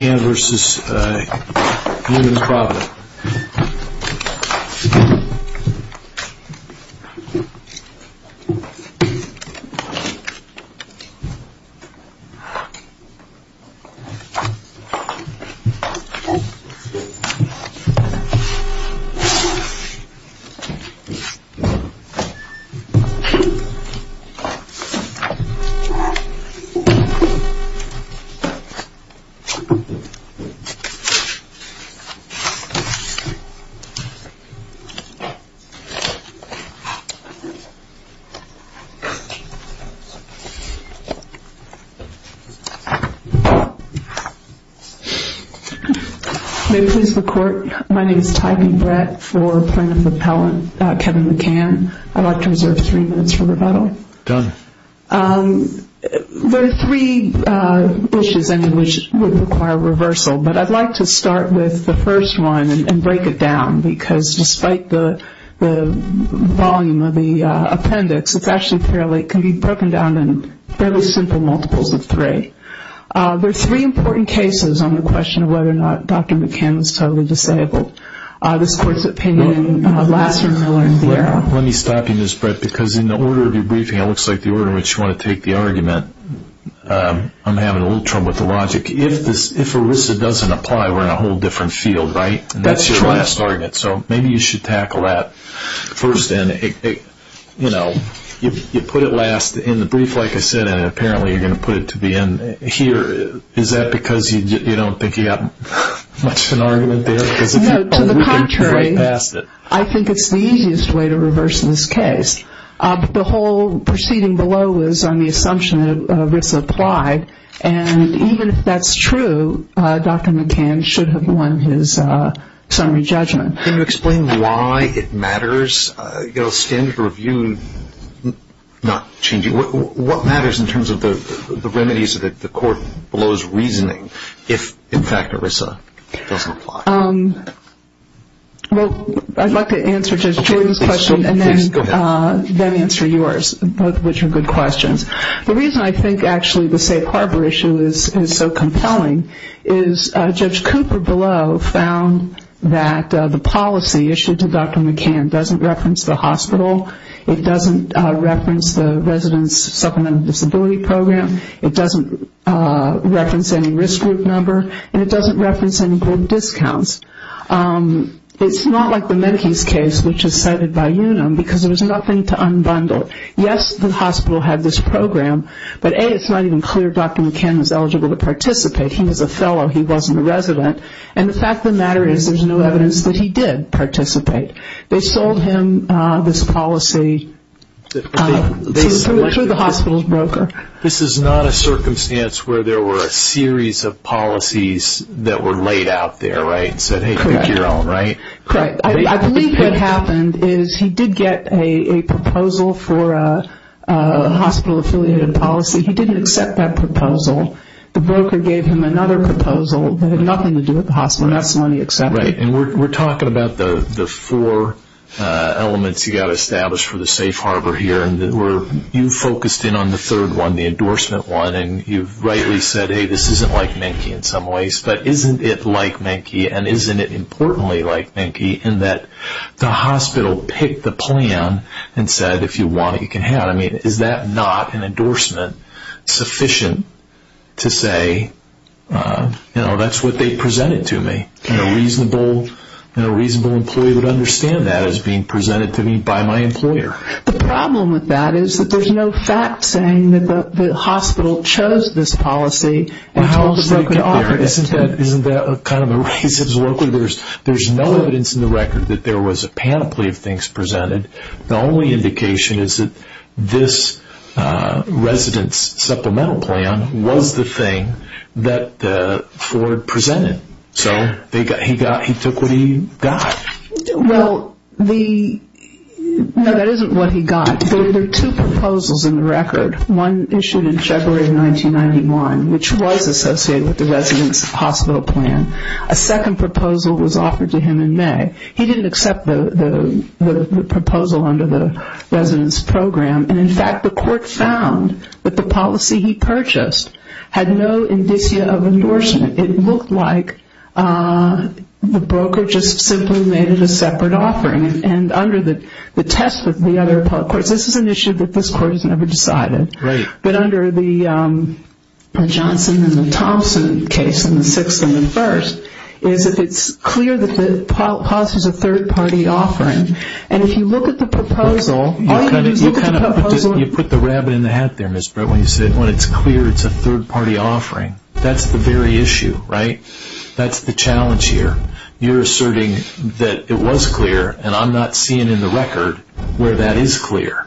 M.D. v. Unum Provident May I please record? My name is Tyreen Brett for Plaintiff Appellant Kevin McCann. I'd like to reserve three minutes for rebuttal. DONE. There are three issues which would require reversal, but I'd like to start with the first one and break it down because despite the volume of the appendix, it can be broken down in fairly simple multiples of three. There are three important cases on the question of whether or not Dr. McCann was totally disabled. This Court's opinion, Lassner, Miller, and Vieira. Let me stop you, Ms. Brett, because in the order of your briefing, it looks like the order in which you want to take the argument, I'm having a little trouble with the logic. If ERISA doesn't apply, we're in a whole different field, right? That's your last argument, so maybe you should tackle that first. You put it last in the brief, like I said, and apparently you're going to put it to the end here. Is that because you don't think you have much of an argument there? No, to the contrary. I think it's the easiest way to reverse this case. The whole proceeding below is on the assumption that ERISA applied, and even if that's true, Dr. McCann should have won his summary judgment. Can you explain why it matters? You know, standard of review not changing. What matters in terms of the remedies that the Court blows reasoning if, in fact, ERISA doesn't apply? Well, I'd like to answer Judge Jordan's question and then answer yours, both of which are good questions. The reason I think, actually, the safe harbor issue is so compelling is Judge Cooper below found that the policy issued to Dr. McCann doesn't reference the hospital, it doesn't reference the resident's supplemental disability program, it doesn't reference any of the discounts. It's not like the Menke's case, which is cited by Unum, because there was nothing to unbundle. Yes, the hospital had this program, but A, it's not even clear Dr. McCann was eligible to participate. He was a fellow, he wasn't a resident, and the fact of the matter is there's no evidence that he did participate. They sold him this policy through the hospital's broker. This is not a circumstance where there were a series of policies that were laid out there, right? Correct. I believe what happened is he did get a proposal for a hospital-affiliated policy. He didn't accept that proposal. The broker gave him another proposal that had nothing to do with the hospital, and that's the one he accepted. We're talking about the four elements you've got established for the safe harbor here. You focused in on the third one, the endorsement one, and you've rightly said, hey, this isn't like Menke in some ways, but isn't it like Menke, and isn't it importantly like Menke, in that the hospital picked the plan and said, if you want it, you can have it. Is that not an endorsement sufficient to say, that's what they presented to me? A reasonable employee would understand that as being presented to me by my employer. The problem with that is that there's no fact saying that the hospital chose this policy and told the broker to offer it. Isn't that kind of a racist? There's no evidence in the record that there was a panoply of things presented. The only indication is that this residence supplemental plan was the thing that Ford presented, so he took what he got. Well, that isn't what he got. There are two proposals in the record, one issued in February of 1991, which was associated with the residence hospital plan. A second proposal was offered to him in May. He didn't accept the proposal under the residence program, and in fact, the court found that the policy he purchased had no indicia of endorsement. It looked like the broker just simply made it a separate offering, and under the test of the other public courts, this is an issue that this court has never decided, but under the Johnson and Thompson case in the sixth and the first, is that it's clear that the policy is a third-party offering, and if you look at the proposal... You kind of put the rabbit in the hat there, Ms. Brett, when you said, well, it's clear it's a third-party offering. That's the very issue, right? That's the challenge here. You're asserting that it was clear, and I'm not seeing in the record where that is clear.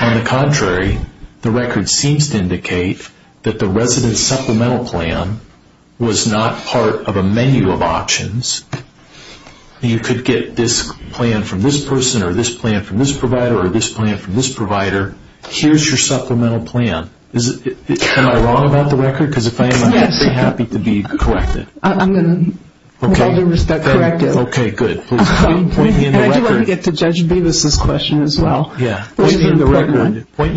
On the contrary, the record seems to indicate that the residence supplemental plan was not part of a menu of options. You could get this plan from this person or this plan from this provider or this plan from this provider. Here's your supplemental plan. Am I wrong about the record? Because if I am, I'd be happy to be corrected. I'm going to, with all due respect, correct it. Okay, good. And I do want to get to Judge Bevis' question as well. Point me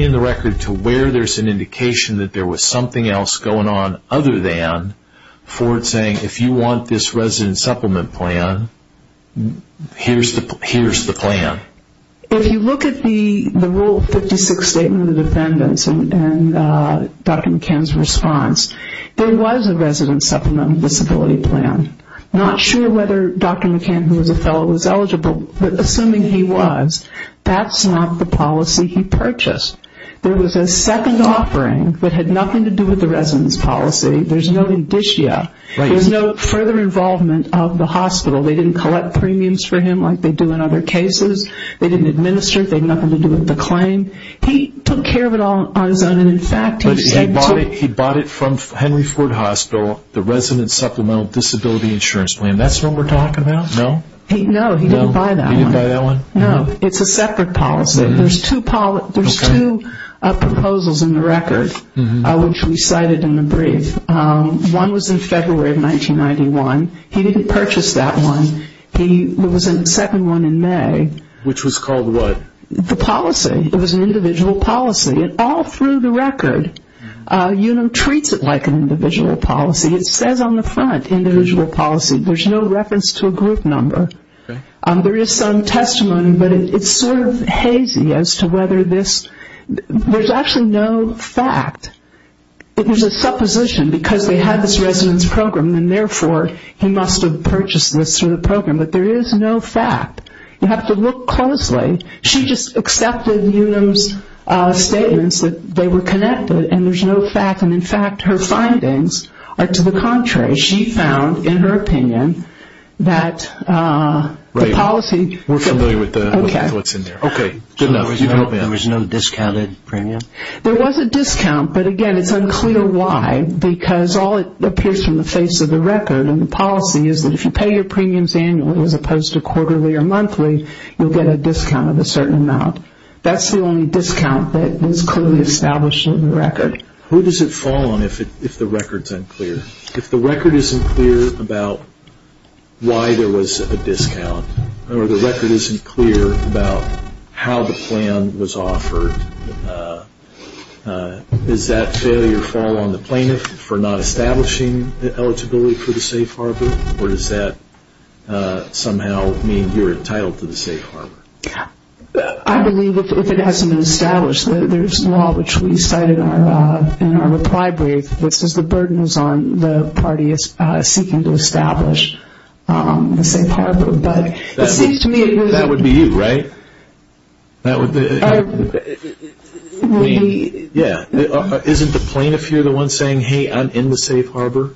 in the record to where there's an indication that there was something else going on other than Ford saying, if you want this residence supplement plan, here's the plan. If you look at the Rule 56 statement of defendants and Dr. McCann's response, there was a residence supplemental disability plan. Not sure whether Dr. McCann, who was a fellow, was eligible, but assuming he was, that's not the policy he purchased. There was a second offering that had nothing to do with the residence policy. There's no indicia. There's no further involvement of the hospital. They didn't collect premiums for him like they do in other cases. They didn't administer. They had nothing to do with the claim. He took care of it all on his own. But he bought it from Henry Ford Hospital, the residence supplemental disability insurance plan. That's the one we're talking about, no? No, he didn't buy that one. It's a separate policy. There's two proposals in the record, which we cited in the brief. One was in February of 1991. He didn't purchase that one. There was a second one in May. Which was called what? The policy. It was an individual policy. All through the record, you know, treats it like an individual policy. It says on the front, individual policy. There's no reference to a group number. There is some testimony, but it's sort of hazy as to whether this, there's actually no fact. It was a supposition because they had this residence program and therefore he must have purchased this through the program. But there is no fact. You have to look closely. She just accepted Unum's statements that they were connected and there's no fact. And in fact, her findings are to the contrary. She found, in her opinion, that the policy... We're familiar with what's in there. Okay. There was no discounted premium? There was a discount, but again, it's unclear why because all it appears from the face of the record and the policy is that if you pay your premiums annually as opposed to quarterly or monthly, you'll get a discount of a certain amount. That's the only discount that is clearly established in the record. Who does it fall on if the record's unclear? If the record isn't clear about why there was a discount or the record isn't clear about how the plan was offered, does that failure fall on the plaintiff for not establishing the eligibility for the safe harbor or does that somehow mean you're entitled to the safe harbor? I believe if it hasn't been established. There's law which we cited in our reply brief that says the burden is on the party seeking to establish the safe harbor. That would be you, right? Yeah. Isn't the plaintiff here the one saying, hey, I'm in the safe harbor?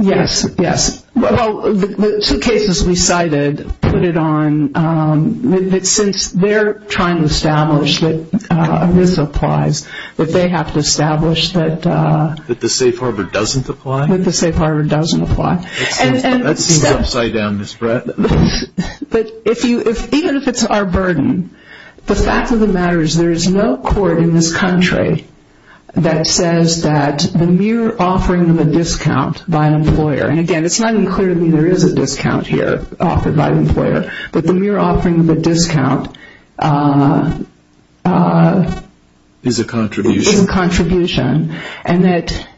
Yes, yes. Well, the two cases we cited put it on... Since they're trying to establish that this applies, that they have to establish that... That the safe harbor doesn't apply? That the safe harbor doesn't apply. That seems upside down, Ms. Brett. Even if it's our burden, the fact of the matter is there is no court in this country that says that the mere offering of a discount by an employer, and again, it's not even clear to me there is a discount here offered by an employer, but the mere offering of a discount is a contribution and that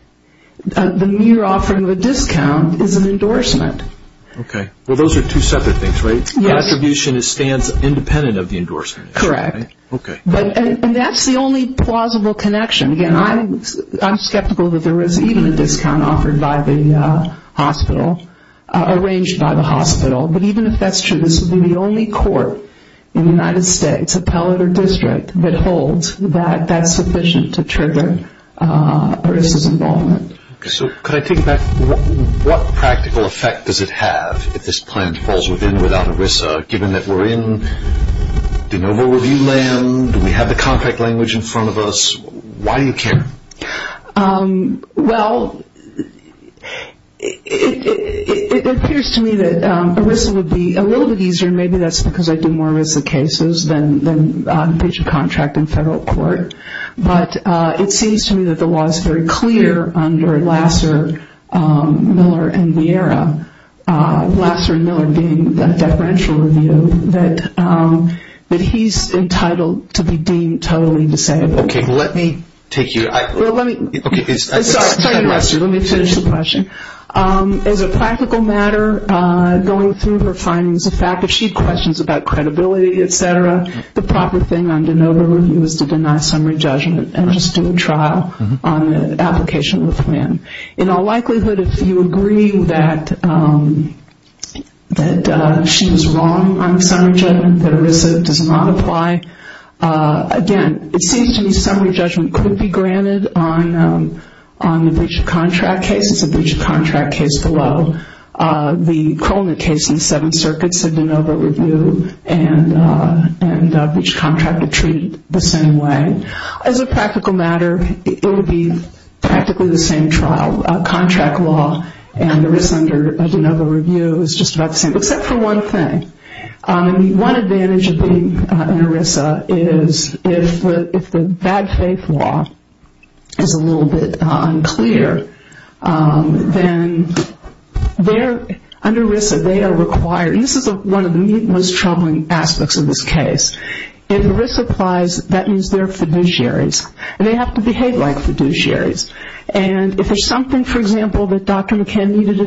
the mere offering of a discount is an endorsement. Okay. Well, those are two separate things, right? The attribution stands independent of the endorsement. Correct. And that's the only plausible connection. Again, I'm skeptical that there is even a discount offered by the hospital, arranged by the hospital, but even if that's true, this would be the only court in the United States, appellate or district, that holds that that's sufficient to trigger ERISA's involvement. Could I take it back? What practical effect does it have if this plaintiff falls within without ERISA, given that we're in de novo review land, we have the contract language in front of us? Why do you care? Well, it appears to me that ERISA would be a little bit easier, maybe that's because I do more ERISA cases than a contract in federal court, but it seems to me that the law is very clear under Lasser, Miller, and Vieira, Lasser and Miller being a deferential review, that he's entitled to be deemed totally disabled. Okay, let me take your... Sorry Lasser, let me finish the question. As a practical matter, going through her findings, the fact that she questions about credibility, et cetera, the proper thing under de novo review is to deny summary judgment and just do a trial on the application of the plan. In all likelihood, if you agree that she is wrong on summary judgment, that ERISA does not apply, again, it seems to me summary judgment could be granted on the breach of contract case. It's a breach of contract case below. The Kroner case in the Seventh Circuit said de novo review and breach of contract are treated the same way. As a practical matter, it would be practically the same trial. Contract law and ERISA under de novo review is just about the same, except for one thing. One advantage of being under ERISA is if the bad faith law is a little bit unclear, then under ERISA they are required, and this is one of the most troubling aspects of this case, if ERISA applies, that means they're fiduciaries. They have to behave like fiduciaries. If there's something, for example, that Dr. McCann needed to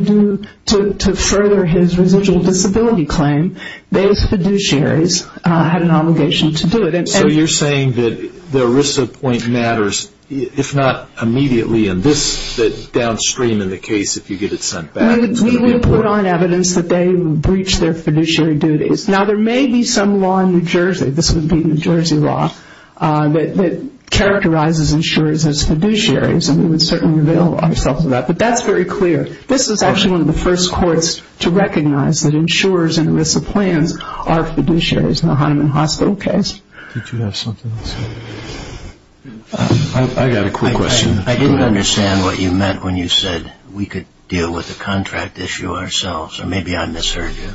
do to further his residual disability claim, those fiduciaries had an obligation to do it. So you're saying that the ERISA point matters, if not immediately, and this downstream in the case, if you get it sent back, it's going to be important. We would put on evidence that they breached their fiduciary duties. Now, there may be some law in New Jersey, this would be New Jersey law, that characterizes insurers as fiduciaries, and we would certainly avail ourselves of that. But that's very clear. This is actually one of the first courts to recognize that insurers and ERISA plans are fiduciaries in a Heineman Hospital case. Did you have something else? I got a quick question. I didn't understand what you meant when you said we could deal with the contract issue ourselves, or maybe I misheard you.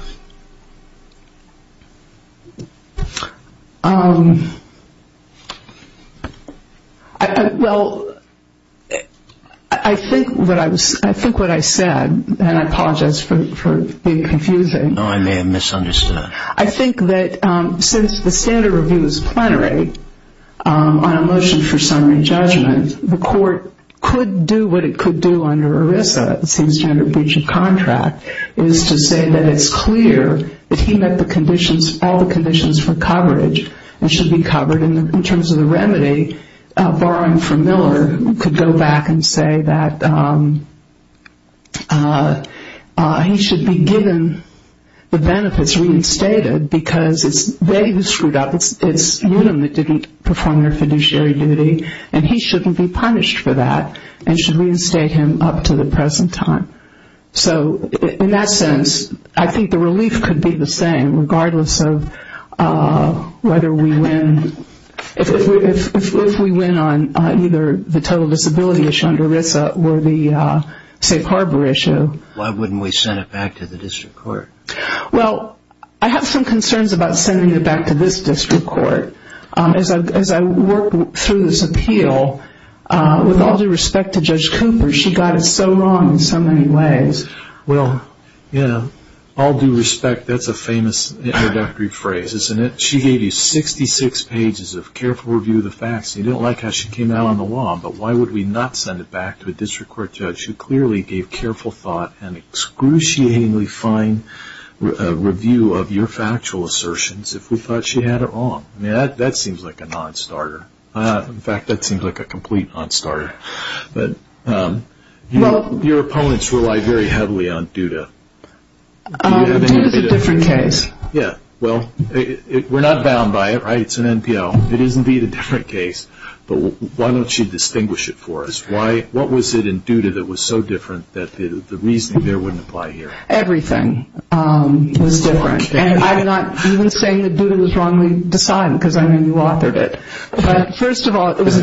Well, I think what I said, and I apologize for being confusing. No, I may have misunderstood. I think that since the standard review is plenary on a motion for summary judgment, the court could do what it could do under ERISA, the same standard breach of contract, is to say that it's clear that he met all the conditions for coverage and should be covered in terms of the remedy. Borrowing from Miller, we could go back and say that he should be given the benefits reinstated because it's they who screwed up. It's Newtom that didn't perform their fiduciary duty, and he shouldn't be punished for that and should reinstate him up to the present time. So in that sense, I think the relief could be the same regardless of whether we win. If we win on either the total disability issue under ERISA or the safe harbor issue. Why wouldn't we send it back to the district court? Well, I have some concerns about sending it back to this district court. As I work through this appeal, with all due respect to Judge Cooper, she got it so wrong in so many ways. Well, yeah, all due respect, that's a famous introductory phrase, isn't it? She gave you 66 pages of careful review of the facts, and you don't like how she came out on the law, but why would we not send it back to a district court judge who clearly gave careful thought and excruciatingly fine review of your factual assertions if we thought she had it wrong? I mean, that seems like a non-starter. In fact, that seems like a complete non-starter. But your opponents rely very heavily on DUDA. DUDA is a different case. Yeah, well, we're not bound by it, right? It's an NPL. It is indeed a different case, but why don't you distinguish it for us? What was it in DUDA that was so different that the reasoning there wouldn't apply here? Everything was different. And I'm not even saying that DUDA was wrongly decided because, I mean, you authored it. But first of all, it was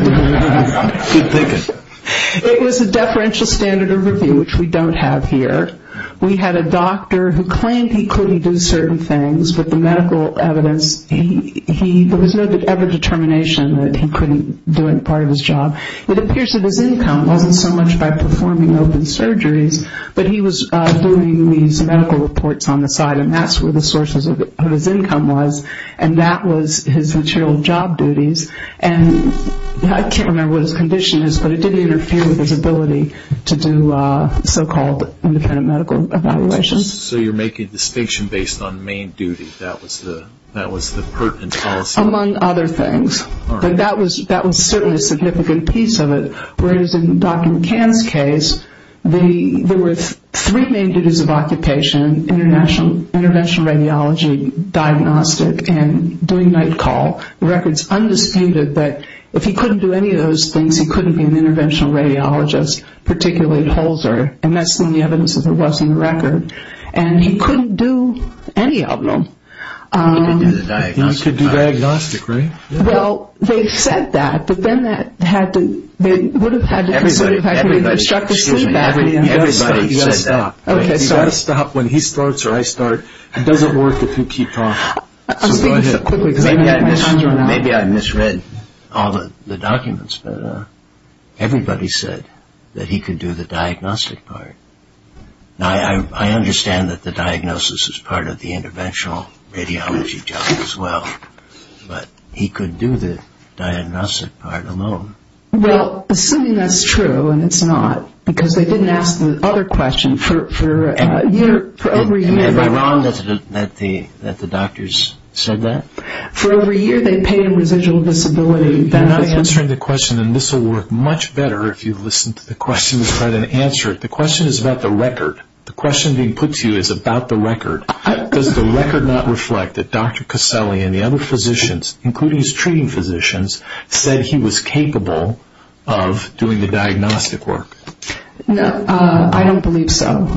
a differential standard of review, which we don't have here. We had a doctor who claimed he could do certain things, but the medical evidence, there was no ever determination that he couldn't do any part of his job. It appears that his income wasn't so much by performing open surgeries, but he was doing these medical reports on the side, and that's where the sources of his income was, and that was his material job duties. And I can't remember what his condition is, but it didn't interfere with his ability to do so-called independent medical evaluations. So you're making a distinction based on main duty. That was the pertinent policy? Among other things. All right. But that was certainly a significant piece of it, whereas in Dr. McCann's case, there were three main duties of occupation, interventional radiology, diagnostic, and doing night call. The record's undisputed that if he couldn't do any of those things, he couldn't be an interventional radiologist, particularly at Holzer, and that's the only evidence that there was on the record. And he couldn't do any of them. He could do the diagnostic. He could do diagnostic, right? Well, they said that, but then that had to, it would have had to be considered if I could have instructed him that way. Everybody said that. You've got to stop. You've got to stop. When he starts or I start, it doesn't work if you keep talking. So go ahead. Maybe I misread all the documents, but everybody said that he could do the diagnostic part. Now, I understand that the diagnosis is part of the interventional radiology job as well, but he could do the diagnostic part alone. Well, assuming that's true, and it's not, because they didn't ask the other question for over a year. Am I wrong that the doctors said that? For over a year, they paid a residual disability benefit. You're not answering the question, and this will work much better if you listen to the question and try to answer it. The question is about the record. The question being put to you is about the record. Does the record not reflect that Dr. Caselli and the other physicians, including his treating physicians, said he was capable of doing the diagnostic work? No, I don't believe so.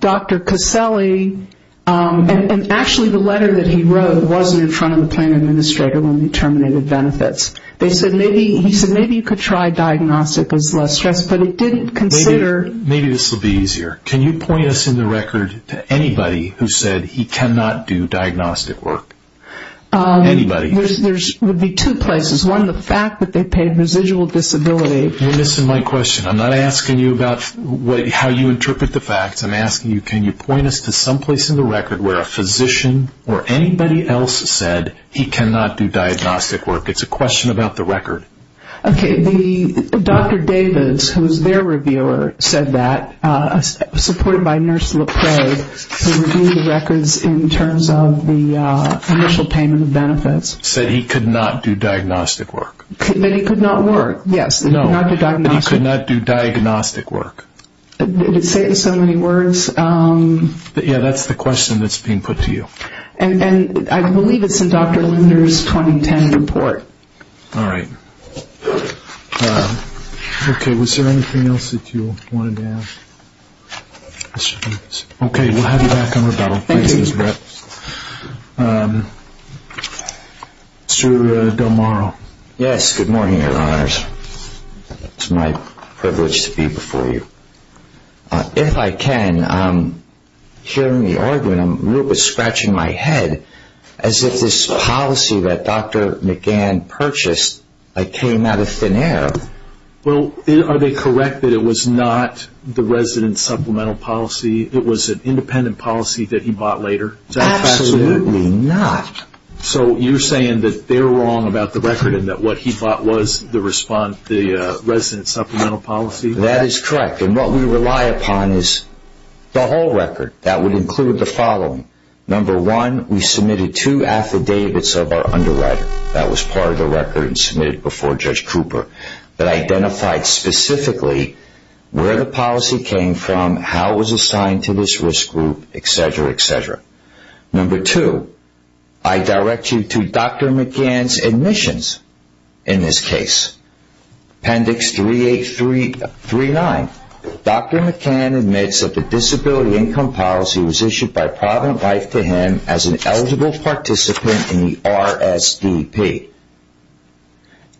Dr. Caselli, and actually the letter that he wrote wasn't in front of the plan administrator when we terminated benefits. He said maybe you could try diagnostic as less stress, but it didn't consider. Maybe this will be easier. Can you point us in the record to anybody who said he cannot do diagnostic work? Anybody. There would be two places. One, the fact that they paid residual disability. You're missing my question. I'm not asking you about how you interpret the facts. I'm asking you, can you point us to someplace in the record where a physician or anybody else said he cannot do diagnostic work? It's a question about the record. Okay. Dr. Davis, who is their reviewer, said that, supported by Nurse LePray, they reviewed the records in terms of the initial payment of benefits. Said he could not do diagnostic work. That he could not work, yes. No, that he could not do diagnostic work. Did it say it in so many words? Yeah, that's the question that's being put to you. And I believe it's in Dr. Linder's 2010 report. All right. Okay, was there anything else that you wanted to add? Okay, we'll have you back on rebuttal. Thank you. Mr. Del Moro. Yes, good morning, Your Honors. It's my privilege to be before you. If I can, hearing the argument, I'm a little bit scratching my head, as if this policy that Dr. McGann purchased came out of thin air. Well, are they correct that it was not the resident supplemental policy? It was an independent policy that he bought later? Absolutely not. So you're saying that they're wrong about the record and that what he bought was the resident supplemental policy? That is correct. And what we rely upon is the whole record. That would include the following. Number one, we submitted two affidavits of our underwriter. That was part of the record and submitted before Judge Cooper that identified specifically where the policy came from, how it was assigned to this risk group, et cetera, et cetera. Number two, I direct you to Dr. McGann's admissions in this case. Appendix 3839, Dr. McGann admits that the disability income policy was issued by Provident Life to him as an eligible participant in the RSDP.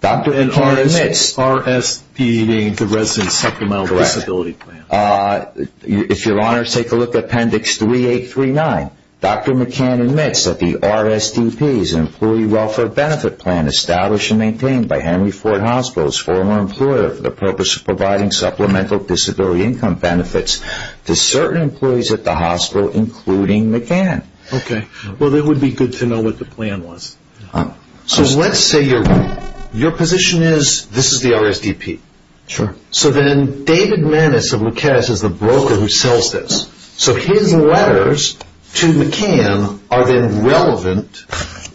And RSD being the resident supplemental disability plan? Correct. If you'll honor, take a look at Appendix 3839. Dr. McGann admits that the RSDP is an employee welfare benefit plan established and maintained by Henry Ford Hospitals, former employer for the purpose of providing supplemental disability income benefits to certain employees at the hospital, including McGann. Okay. Well, it would be good to know what the plan was. So let's say your position is this is the RSDP. Sure. So then David Maness of McCann is the broker who sells this. So his letters to McGann are then relevant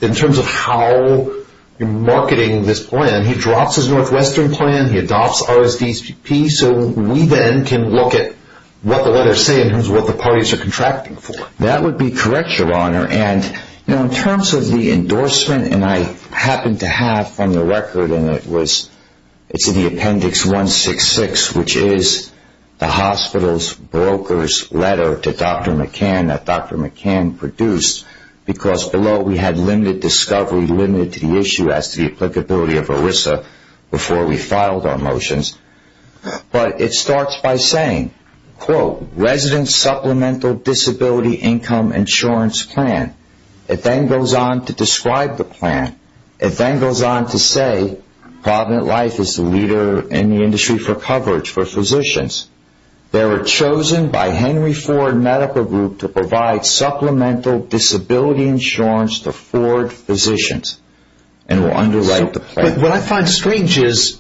in terms of how you're marketing this plan. He drops his Northwestern plan. He adopts RSDP. So we then can look at what the letters say in terms of what the parties are contracting for. That would be correct, Your Honor. And in terms of the endorsement, and I happen to have on the record, and it's in the Appendix 166, which is the hospital's broker's letter to Dr. McGann that Dr. McGann produced because below we had limited discovery, limited to the issue as to the applicability of ERISA before we filed our motions. But it starts by saying, quote, resident supplemental disability income insurance plan. It then goes on to describe the plan. It then goes on to say Provident Life is the leader in the industry for coverage for physicians. They were chosen by Henry Ford Medical Group to provide supplemental disability insurance to Ford physicians and will underwrite the plan. But what I find strange is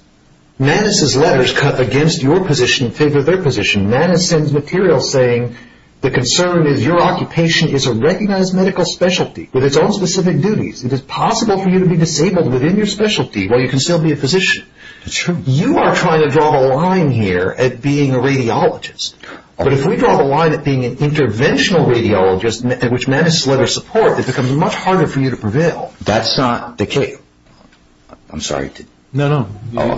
Manis' letters cut against your position in favor of their position. Manis sends material saying the concern is your occupation is a recognized medical specialty with its own specific duties. It is possible for you to be disabled within your specialty while you can still be a physician. That's true. You are trying to draw the line here at being a radiologist. But if we draw the line at being an interventional radiologist, which Manis' letters support, it becomes much harder for you to prevail. That's not the case. I'm sorry. No, no. Go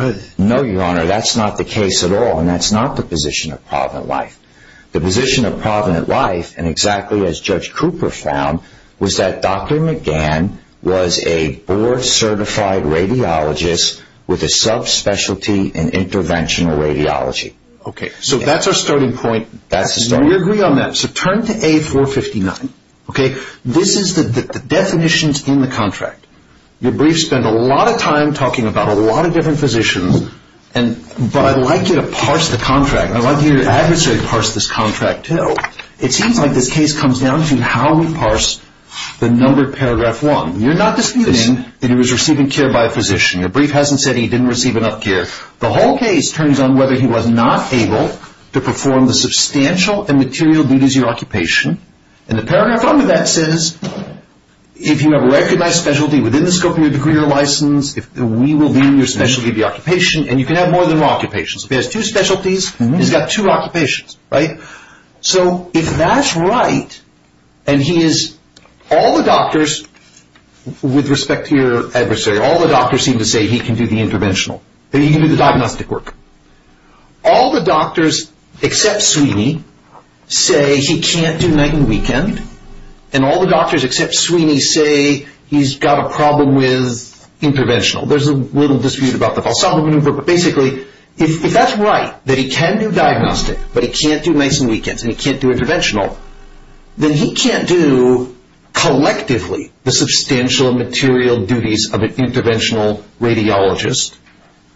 ahead. No, Your Honor. That's not the case at all, and that's not the position of Provident Life. The position of Provident Life, and exactly as Judge Cooper found, was that Dr. McGann was a board-certified radiologist with a sub-specialty in interventional radiology. Okay. So that's our starting point. That's the starting point. We agree on that. So turn to A459. Okay? This is the definitions in the contract. Your brief spent a lot of time talking about a lot of different physicians, but I'd like you to parse the contract. I'd like you and your adversary to parse this contract, too. It seems like this case comes down to how we parse the numbered paragraph one. You're not disputing that he was receiving care by a physician. Your brief hasn't said he didn't receive enough care. The whole case turns on whether he was not able to perform the substantial and material duties of your occupation, and the paragraph under that says if you have a recognized specialty within the scope of your degree or license, we will leave your specialty of your occupation, and you can have more than one occupation. If he has two specialties, he's got two occupations, right? So if that's right, and he is all the doctors with respect to your adversary, all the doctors seem to say he can do the interventional, that he can do the diagnostic work. All the doctors except Sweeney say he can't do night and weekend, and all the doctors except Sweeney say he's got a problem with interventional. There's a little dispute about the valsalva maneuver, but basically if that's right, that he can do diagnostic, but he can't do nights and weekends, and he can't do interventional, then he can't do collectively the substantial and material duties of an interventional radiologist,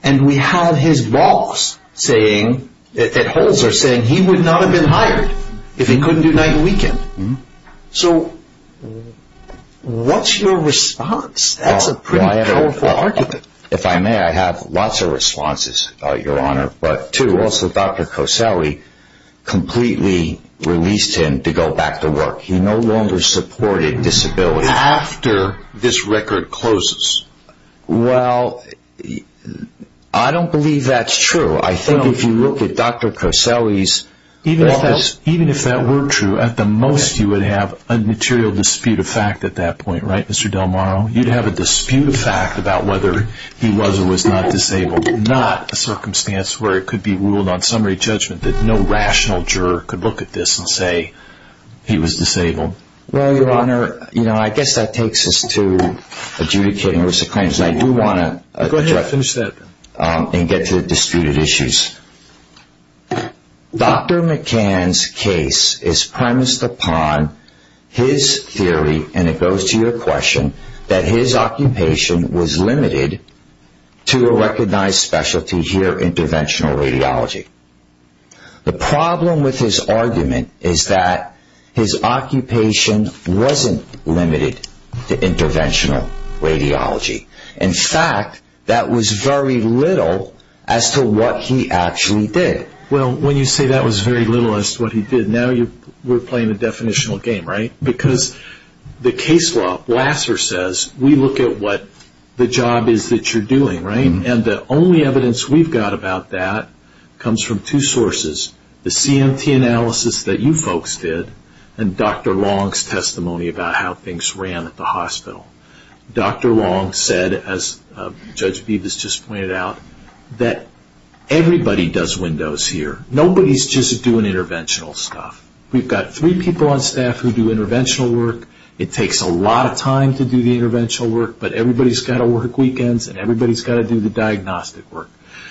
and we have his boss saying, at Holzer, saying he would not have been hired if he couldn't do night and weekend. So what's your response? That's a pretty powerful argument. If I may, I have lots of responses, Your Honor. But two, also Dr. Coselli completely released him to go back to work. He no longer supported disability. After this record closes? Well, I don't believe that's true. I think if you look at Dr. Coselli's office... Even if that were true, at the most you would have a material dispute of fact at that point, right, Mr. Delmaro? You'd have a dispute of fact about whether he was or was not disabled, not a circumstance where it could be ruled on summary judgment that no rational juror could look at this and say he was disabled. Well, Your Honor, I guess that takes us to adjudicating risk of claims, and I do want to... Go ahead. Finish that. ...and get to the disputed issues. Dr. McCann's case is premised upon his theory, and it goes to your question, that his occupation was limited to a recognized specialty here, interventional radiology. The problem with his argument is that his occupation wasn't limited to interventional radiology. In fact, that was very little as to what he actually did. Well, when you say that was very little as to what he did, now we're playing a definitional game, right? Because the case law, Lasser says, we look at what the job is that you're doing, right? And the only evidence we've got about that comes from two sources, the CMT analysis that you folks did and Dr. Long's testimony about how things ran at the hospital. Dr. Long said, as Judge Bibas just pointed out, that everybody does windows here. Nobody's just doing interventional stuff. We've got three people on staff who do interventional work. It takes a lot of time to do the interventional work, but everybody's got to work weekends, and everybody's got to do the diagnostic work.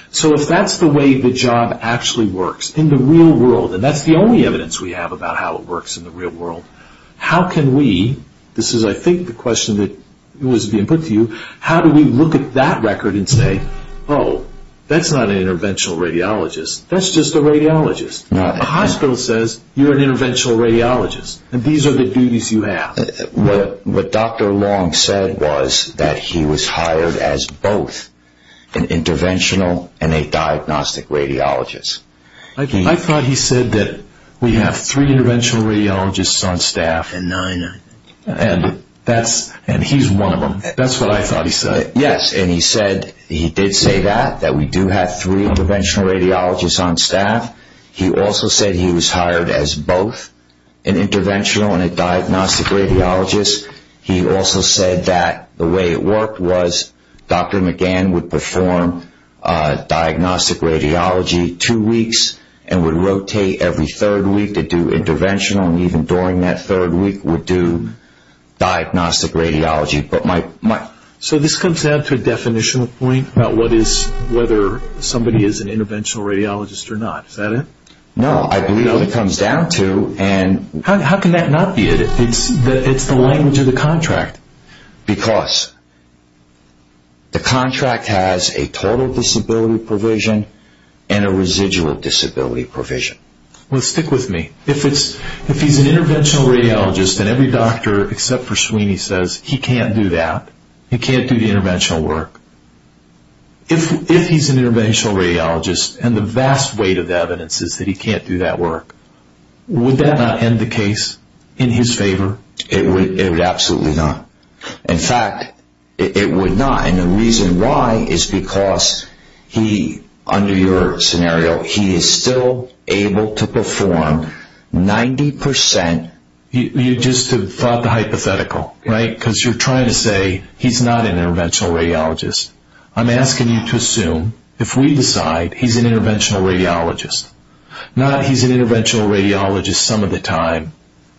So if that's the way the job actually works in the real world, and that's the only evidence we have about how it works in the real world, how can we... This is, I think, the question that was being put to you. How do we look at that record and say, oh, that's not an interventional radiologist. That's just a radiologist. A hospital says you're an interventional radiologist, and these are the duties you have. What Dr. Long said was that he was hired as both an interventional and a diagnostic radiologist. I thought he said that we have three interventional radiologists on staff, and he's one of them. That's what I thought he said. Yes, and he did say that, that we do have three interventional radiologists on staff. He also said he was hired as both an interventional and a diagnostic radiologist. He also said that the way it worked was Dr. McGann would perform diagnostic radiology two weeks and would rotate every third week to do interventional, and even during that third week would do diagnostic radiology. So this comes down to a definitional point about what is, whether somebody is an interventional radiologist or not. Is that it? No, I believe what it comes down to and... How can that not be it? It's the language of the contract because the contract has a total disability provision and a residual disability provision. Well, stick with me. If he's an interventional radiologist and every doctor except for Sweeney says he can't do that, he can't do the interventional work, if he's an interventional radiologist and the vast weight of evidence is that he can't do that work, would that not end the case in his favor? It would absolutely not. In fact, it would not, and the reason why is because he, under your scenario, he is still able to perform 90%. You just have thought the hypothetical, right? Because you're trying to say he's not an interventional radiologist. I'm asking you to assume, if we decide he's an interventional radiologist, not he's an interventional radiologist some of the time,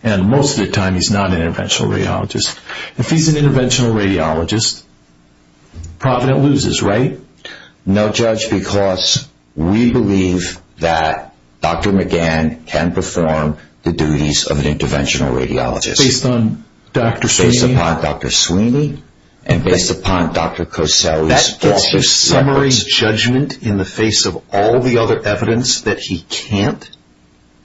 and most of the time he's not an interventional radiologist. If he's an interventional radiologist, Provident loses, right? No, Judge, because we believe that Dr. McGann can perform the duties of an interventional radiologist. Based on Dr. Sweeney? Based upon Dr. Sweeney and based upon Dr. Coselli's... Does he summarize judgment in the face of all the other evidence that he can't?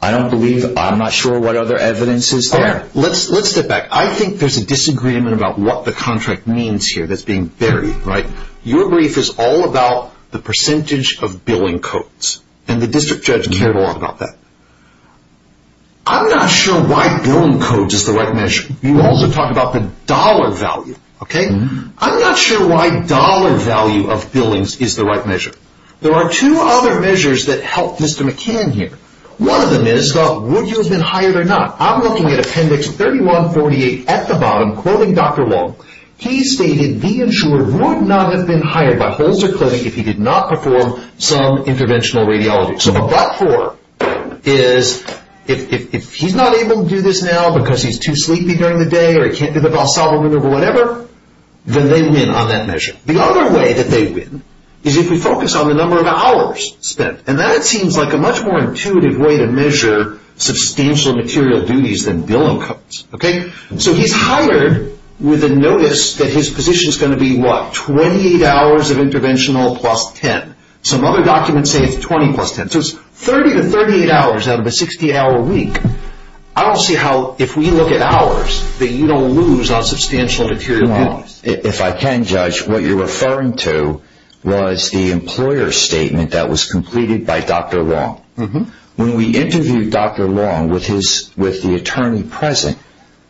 I don't believe, I'm not sure what other evidence is there. Let's step back. I think there's a disagreement about what the contract means here that's being buried, right? Your brief is all about the percentage of billing codes, and the district judge cared a lot about that. I'm not sure why billing codes is the right measure. You also talk about the dollar value, okay? I'm not sure why dollar value of billings is the right measure. There are two other measures that help Mr. McGann here. One of them is the would you have been hired or not. I'm looking at appendix 3148 at the bottom, quoting Dr. Long. He stated the insurer would not have been hired by Holzer Clinic if he did not perform some interventional radiology. So the but-for is if he's not able to do this now because he's too sleepy during the day, or he can't do the valsalva maneuver, whatever, then they win on that measure. The other way that they win is if we focus on the number of hours spent. And that seems like a much more intuitive way to measure substantial material duties than billing codes, okay? So he's hired with a notice that his position is going to be, what, 28 hours of interventional plus 10. Some other documents say it's 20 plus 10. So it's 30 to 38 hours out of a 60-hour week. I don't see how, if we look at hours, that you don't lose on substantial material duties. If I can, Judge, what you're referring to was the employer statement that was completed by Dr. Long. When we interviewed Dr. Long with the attorney present,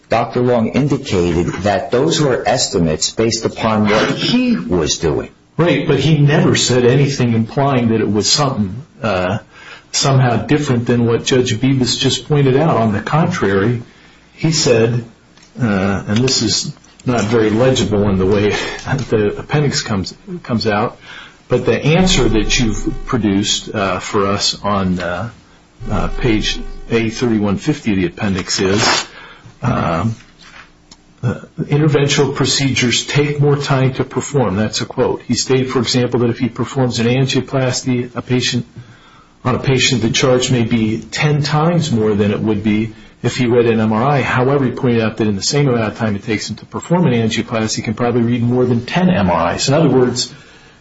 Dr. Long indicated that those were estimates based upon what he was doing. Right, but he never said anything implying that it was something somehow different than what Judge Bibas just pointed out. On the contrary, he said, and this is not very legible in the way the appendix comes out, but the answer that you've produced for us on page A3150 of the appendix is, interventional procedures take more time to perform. That's a quote. He stated, for example, that if he performs an angioplasty on a patient, the charge may be 10 times more than it would be if he read an MRI. However, he pointed out that in the same amount of time it takes him to perform an angioplasty, he can probably read more than 10 MRIs. In other words,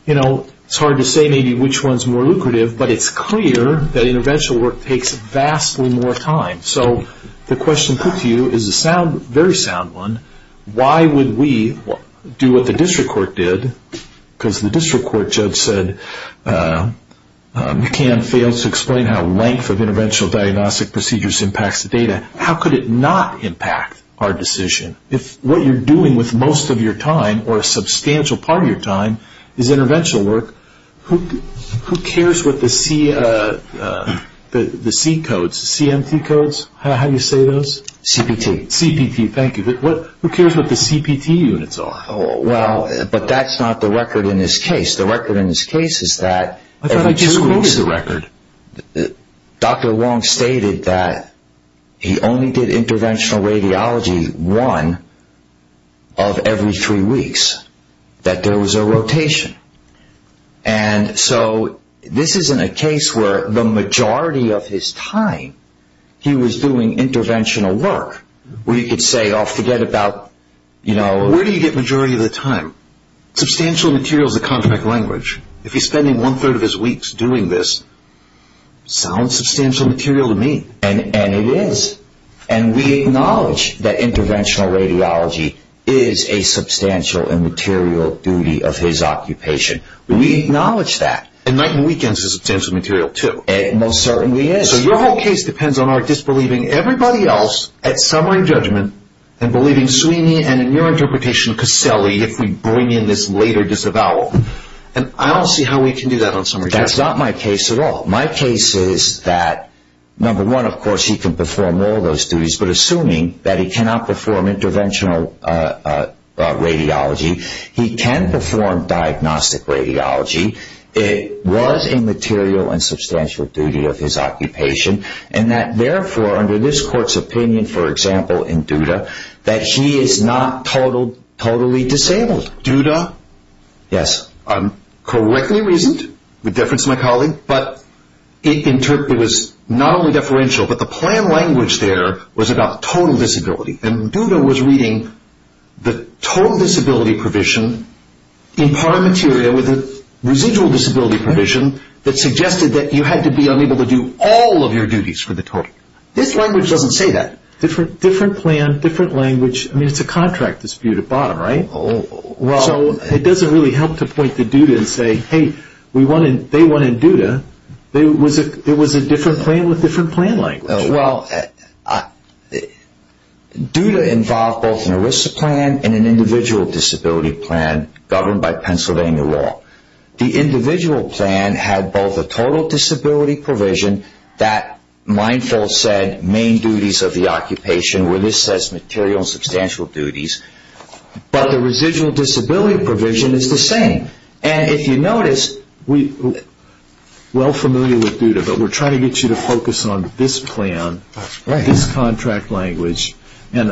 you know, it's hard to say maybe which one's more lucrative, but it's clear that interventional work takes vastly more time. So the question put to you is a very sound one. Why would we do what the district court did? Because the district court judge said, McCann failed to explain how length of interventional diagnostic procedures impacts the data. How could it not impact our decision? If what you're doing with most of your time or a substantial part of your time is interventional work, who cares what the C codes, CMT codes, how do you say those? CPT. CPT, thank you. Who cares what the CPT units are? Well, but that's not the record in this case. The record in this case is that every two weeks. I thought I just created the record. Dr. Wong stated that he only did interventional radiology one of every three weeks, that there was a rotation. And so this isn't a case where the majority of his time he was doing interventional work, where you could say, oh, forget about, you know... Where do you get majority of the time? Substantial material is a contract language. If he's spending one third of his weeks doing this, sounds substantial material to me. And it is. And we acknowledge that interventional radiology is a substantial and material duty of his occupation. We acknowledge that. And night and weekends is substantial material, too. It most certainly is. So your whole case depends on our disbelieving everybody else at summary judgment and believing Sweeney and in your interpretation, Caselli, if we bring in this later disavowal. And I don't see how we can do that on summary judgment. That's not my case at all. My case is that, number one, of course, he can perform all those duties, but assuming that he cannot perform interventional radiology, he can perform diagnostic radiology. It was a material and substantial duty of his occupation. And that, therefore, under this court's opinion, for example, in Duda, that he is not totally disabled. Duda? Yes. I'm correctly reasoned, with deference to my colleague, but it was not only deferential, but the plan language there was about total disability. And Duda was reading the total disability provision in par materia with a residual disability provision that suggested that you had to be unable to do all of your duties for the total. This language doesn't say that. Different plan, different language. I mean, it's a contract dispute at bottom, right? So it doesn't really help to point to Duda and say, hey, they won in Duda. It was a different plan with different plan language. Well, Duda involved both an ERISA plan and an individual disability plan governed by Pennsylvania law. The individual plan had both a total disability provision that mindful said main duties of the occupation, where this says material and substantial duties. But the residual disability provision is the same. And if you notice, well familiar with Duda, but we're trying to get you to focus on this plan, this contract language. And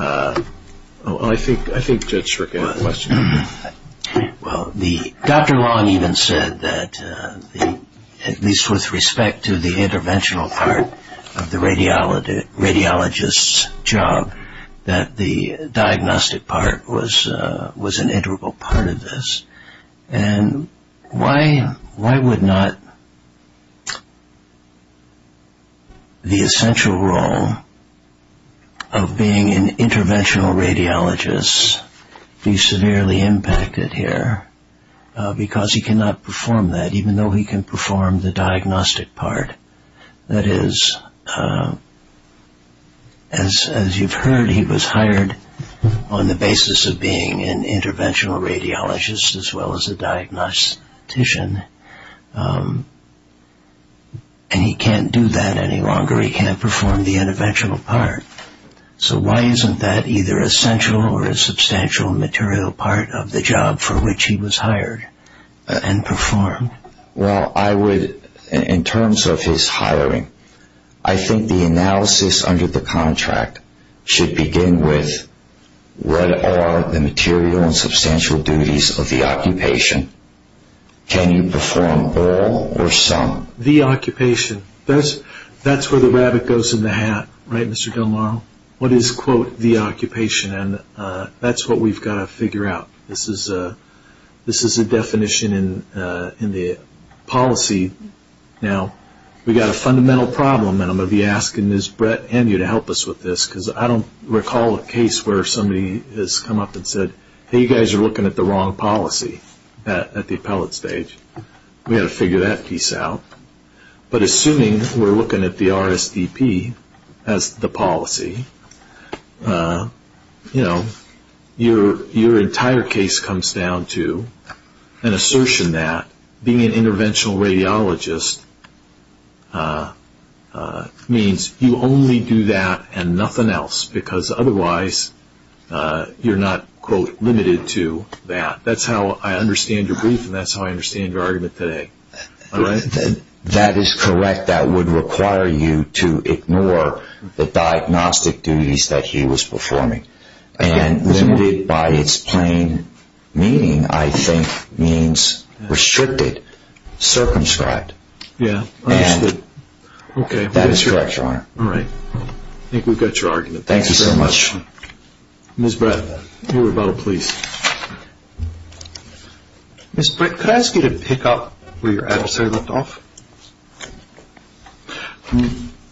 I think Judge Schrick had a question. Well, Dr. Long even said that, at least with respect to the interventional part of the radiologist's job, that the diagnostic part was an integral part of this. And why would not the essential role of being an interventional radiologist be severely impacted here? Because he cannot perform that, even though he can perform the diagnostic part. That is, as you've heard, he was hired on the basis of being an interventional radiologist as well as a diagnostician. And he can't do that any longer. He can't perform the interventional part. So why isn't that either a central or a substantial material part of the job for which he was hired and performed? Well, I would, in terms of his hiring, I think the analysis under the contract should begin with what are the material and substantial duties of the occupation? Can you perform all or some? The occupation. That's where the rabbit goes in the hat, right, Mr. Del Mar? What is, quote, the occupation? And that's what we've got to figure out. This is a definition in the policy. Now, we've got a fundamental problem, and I'm going to be asking Ms. Brett and you to help us with this, because I don't recall a case where somebody has come up and said, hey, you guys are looking at the wrong policy at the appellate stage. We've got to figure that piece out. But assuming we're looking at the RSDP as the policy, you know, your entire case comes down to an assertion that being an interventional radiologist means you only do that and nothing else, because otherwise you're not, quote, limited to that. That's how I understand your brief, and that's how I understand your argument today. That is correct. That would require you to ignore the diagnostic duties that he was performing. And limited by its plain meaning, I think, means restricted, circumscribed. And that is correct, Your Honor. All right. I think we've got your argument. Ms. Brett, your rebuttal, please. Ms. Brett, could I ask you to pick up where your adversary left off?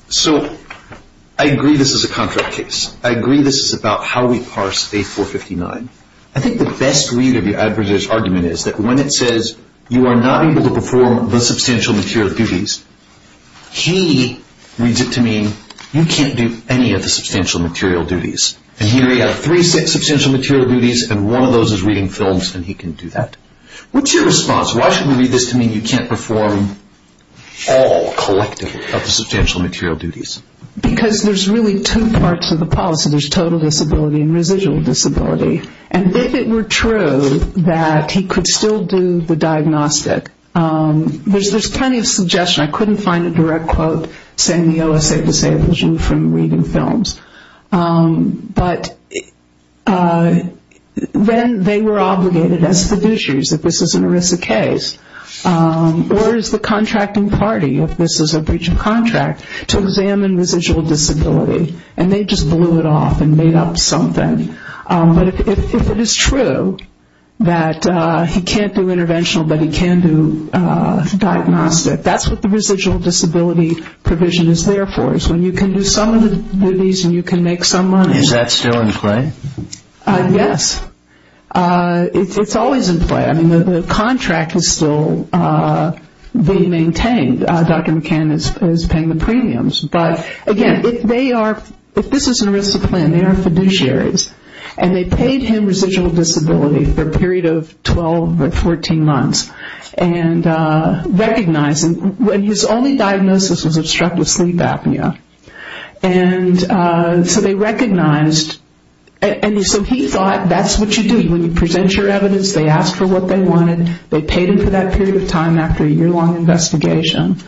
So I agree this is a contract case. I agree this is about how we parse A459. I think the best read of your adversary's argument is that when it says, you are not able to perform the substantial material duties, he reads it to mean you can't do any of the substantial material duties. And here you have three substantial material duties, and one of those is reading films, and he can do that. What's your response? Why should we read this to mean you can't perform all, collectively, of the substantial material duties? Because there's really two parts of the policy. There's total disability and residual disability. And if it were true that he could still do the diagnostic, there's plenty of suggestion. I couldn't find a direct quote saying the OSA disables you from reading films. But then they were obligated as fiduciaries, if this is an ERISA case, or as the contracting party, if this is a breach of contract, to examine residual disability. And they just blew it off and made up something. But if it is true that he can't do interventional but he can do diagnostic, that's what the residual disability provision is there for, when you can do some of the duties and you can make some money. Is that still in play? Yes. It's always in play. I mean, the contract is still being maintained. Dr. McCann is paying the premiums. But, again, if this is an ERISA plan, they are fiduciaries, and they paid him residual disability for a period of 12 or 14 months, and his only diagnosis was obstructive sleep apnea. And so they recognized, and so he thought that's what you do. When you present your evidence, they ask for what they wanted. They paid him for that period of time after a year-long investigation.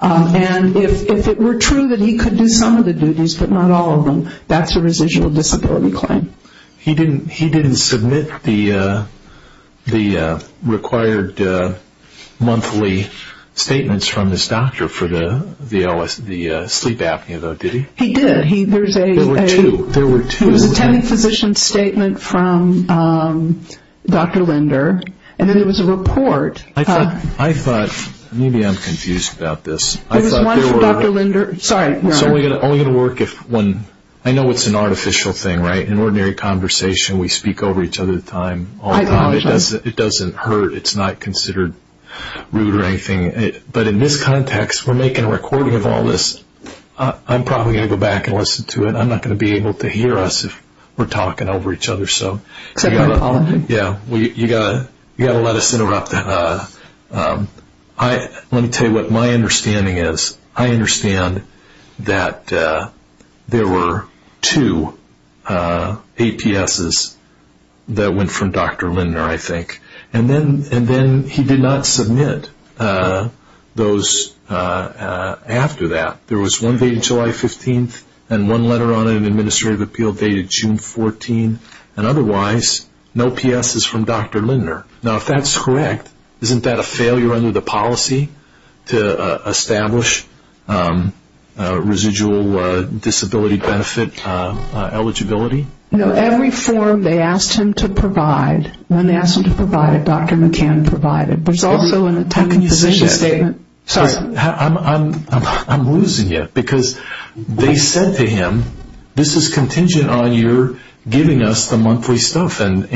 And if it were true that he could do some of the duties but not all of them, that's a residual disability claim. He didn't submit the required monthly statements from this doctor for the sleep apnea, though, did he? He did. There were two. There was an attending physician statement from Dr. Linder, and then there was a report. I thought, maybe I'm confused about this. There was one from Dr. Linder. Sorry. It's only going to work if one. I know it's an artificial thing, right? In ordinary conversation, we speak over each other all the time. It doesn't hurt. It's not considered rude or anything. But in this context, we're making a recording of all this. I'm probably going to go back and listen to it. I'm not going to be able to hear us if we're talking over each other. So you've got to let us interrupt. Let me tell you what my understanding is. I understand that there were two APSs that went from Dr. Linder, I think. And then he did not submit those after that. There was one dated July 15th and one letter on an administrative appeal dated June 14th. And otherwise, no PSs from Dr. Linder. Now, if that's correct, isn't that a failure under the policy to establish residual disability benefit eligibility? No. Every form they asked him to provide, when they asked him to provide it, Dr. McCann provided. There's also an attendant physician statement. How can you say that? Sorry. I'm losing you. Because they said to him, this is contingent on your giving us the monthly stuff. And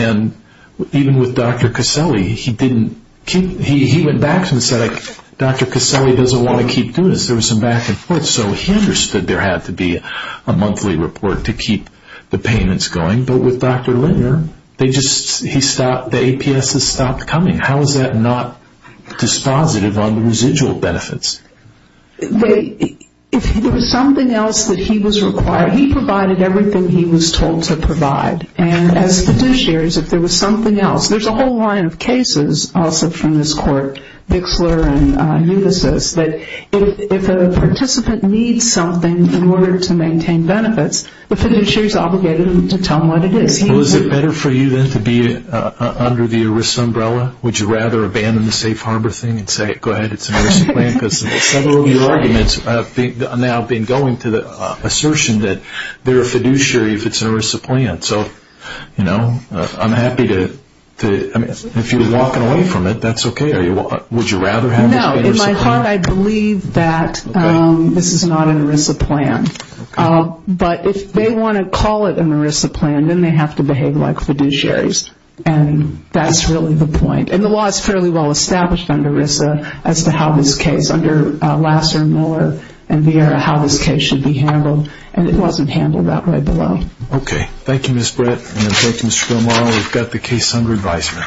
even with Dr. Caselli, he went back and said, Dr. Caselli doesn't want to keep doing this. There was some back and forth. So he understood there had to be a monthly report to keep the payments going. But with Dr. Linder, the APSs stopped coming. How is that not dispositive on the residual benefits? If there was something else that he was required, he provided everything he was told to provide. And as fiduciaries, if there was something else, there's a whole line of cases also from this court, Bixler and Ulysses, that if a participant needs something in order to maintain benefits, the fiduciary is obligated to tell them what it is. Well, is it better for you then to be under the ERISA umbrella? Would you rather abandon the Safe Harbor thing and say, go ahead, it's an ERISA plan? Because several of your arguments have now been going to the assertion that they're a fiduciary if it's an ERISA plan. So, you know, I'm happy to – if you're walking away from it, that's okay. Would you rather have it be an ERISA plan? No, in my heart I believe that this is not an ERISA plan. But if they want to call it an ERISA plan, then they have to behave like fiduciaries. And that's really the point. And the law is fairly well established under ERISA as to how this case, under Lasser, Miller, and Vieira, how this case should be handled. And it wasn't handled that way below. Okay. Thank you, Ms. Brett. And thank you, Mr. Gilmour. We've got the case under advisement.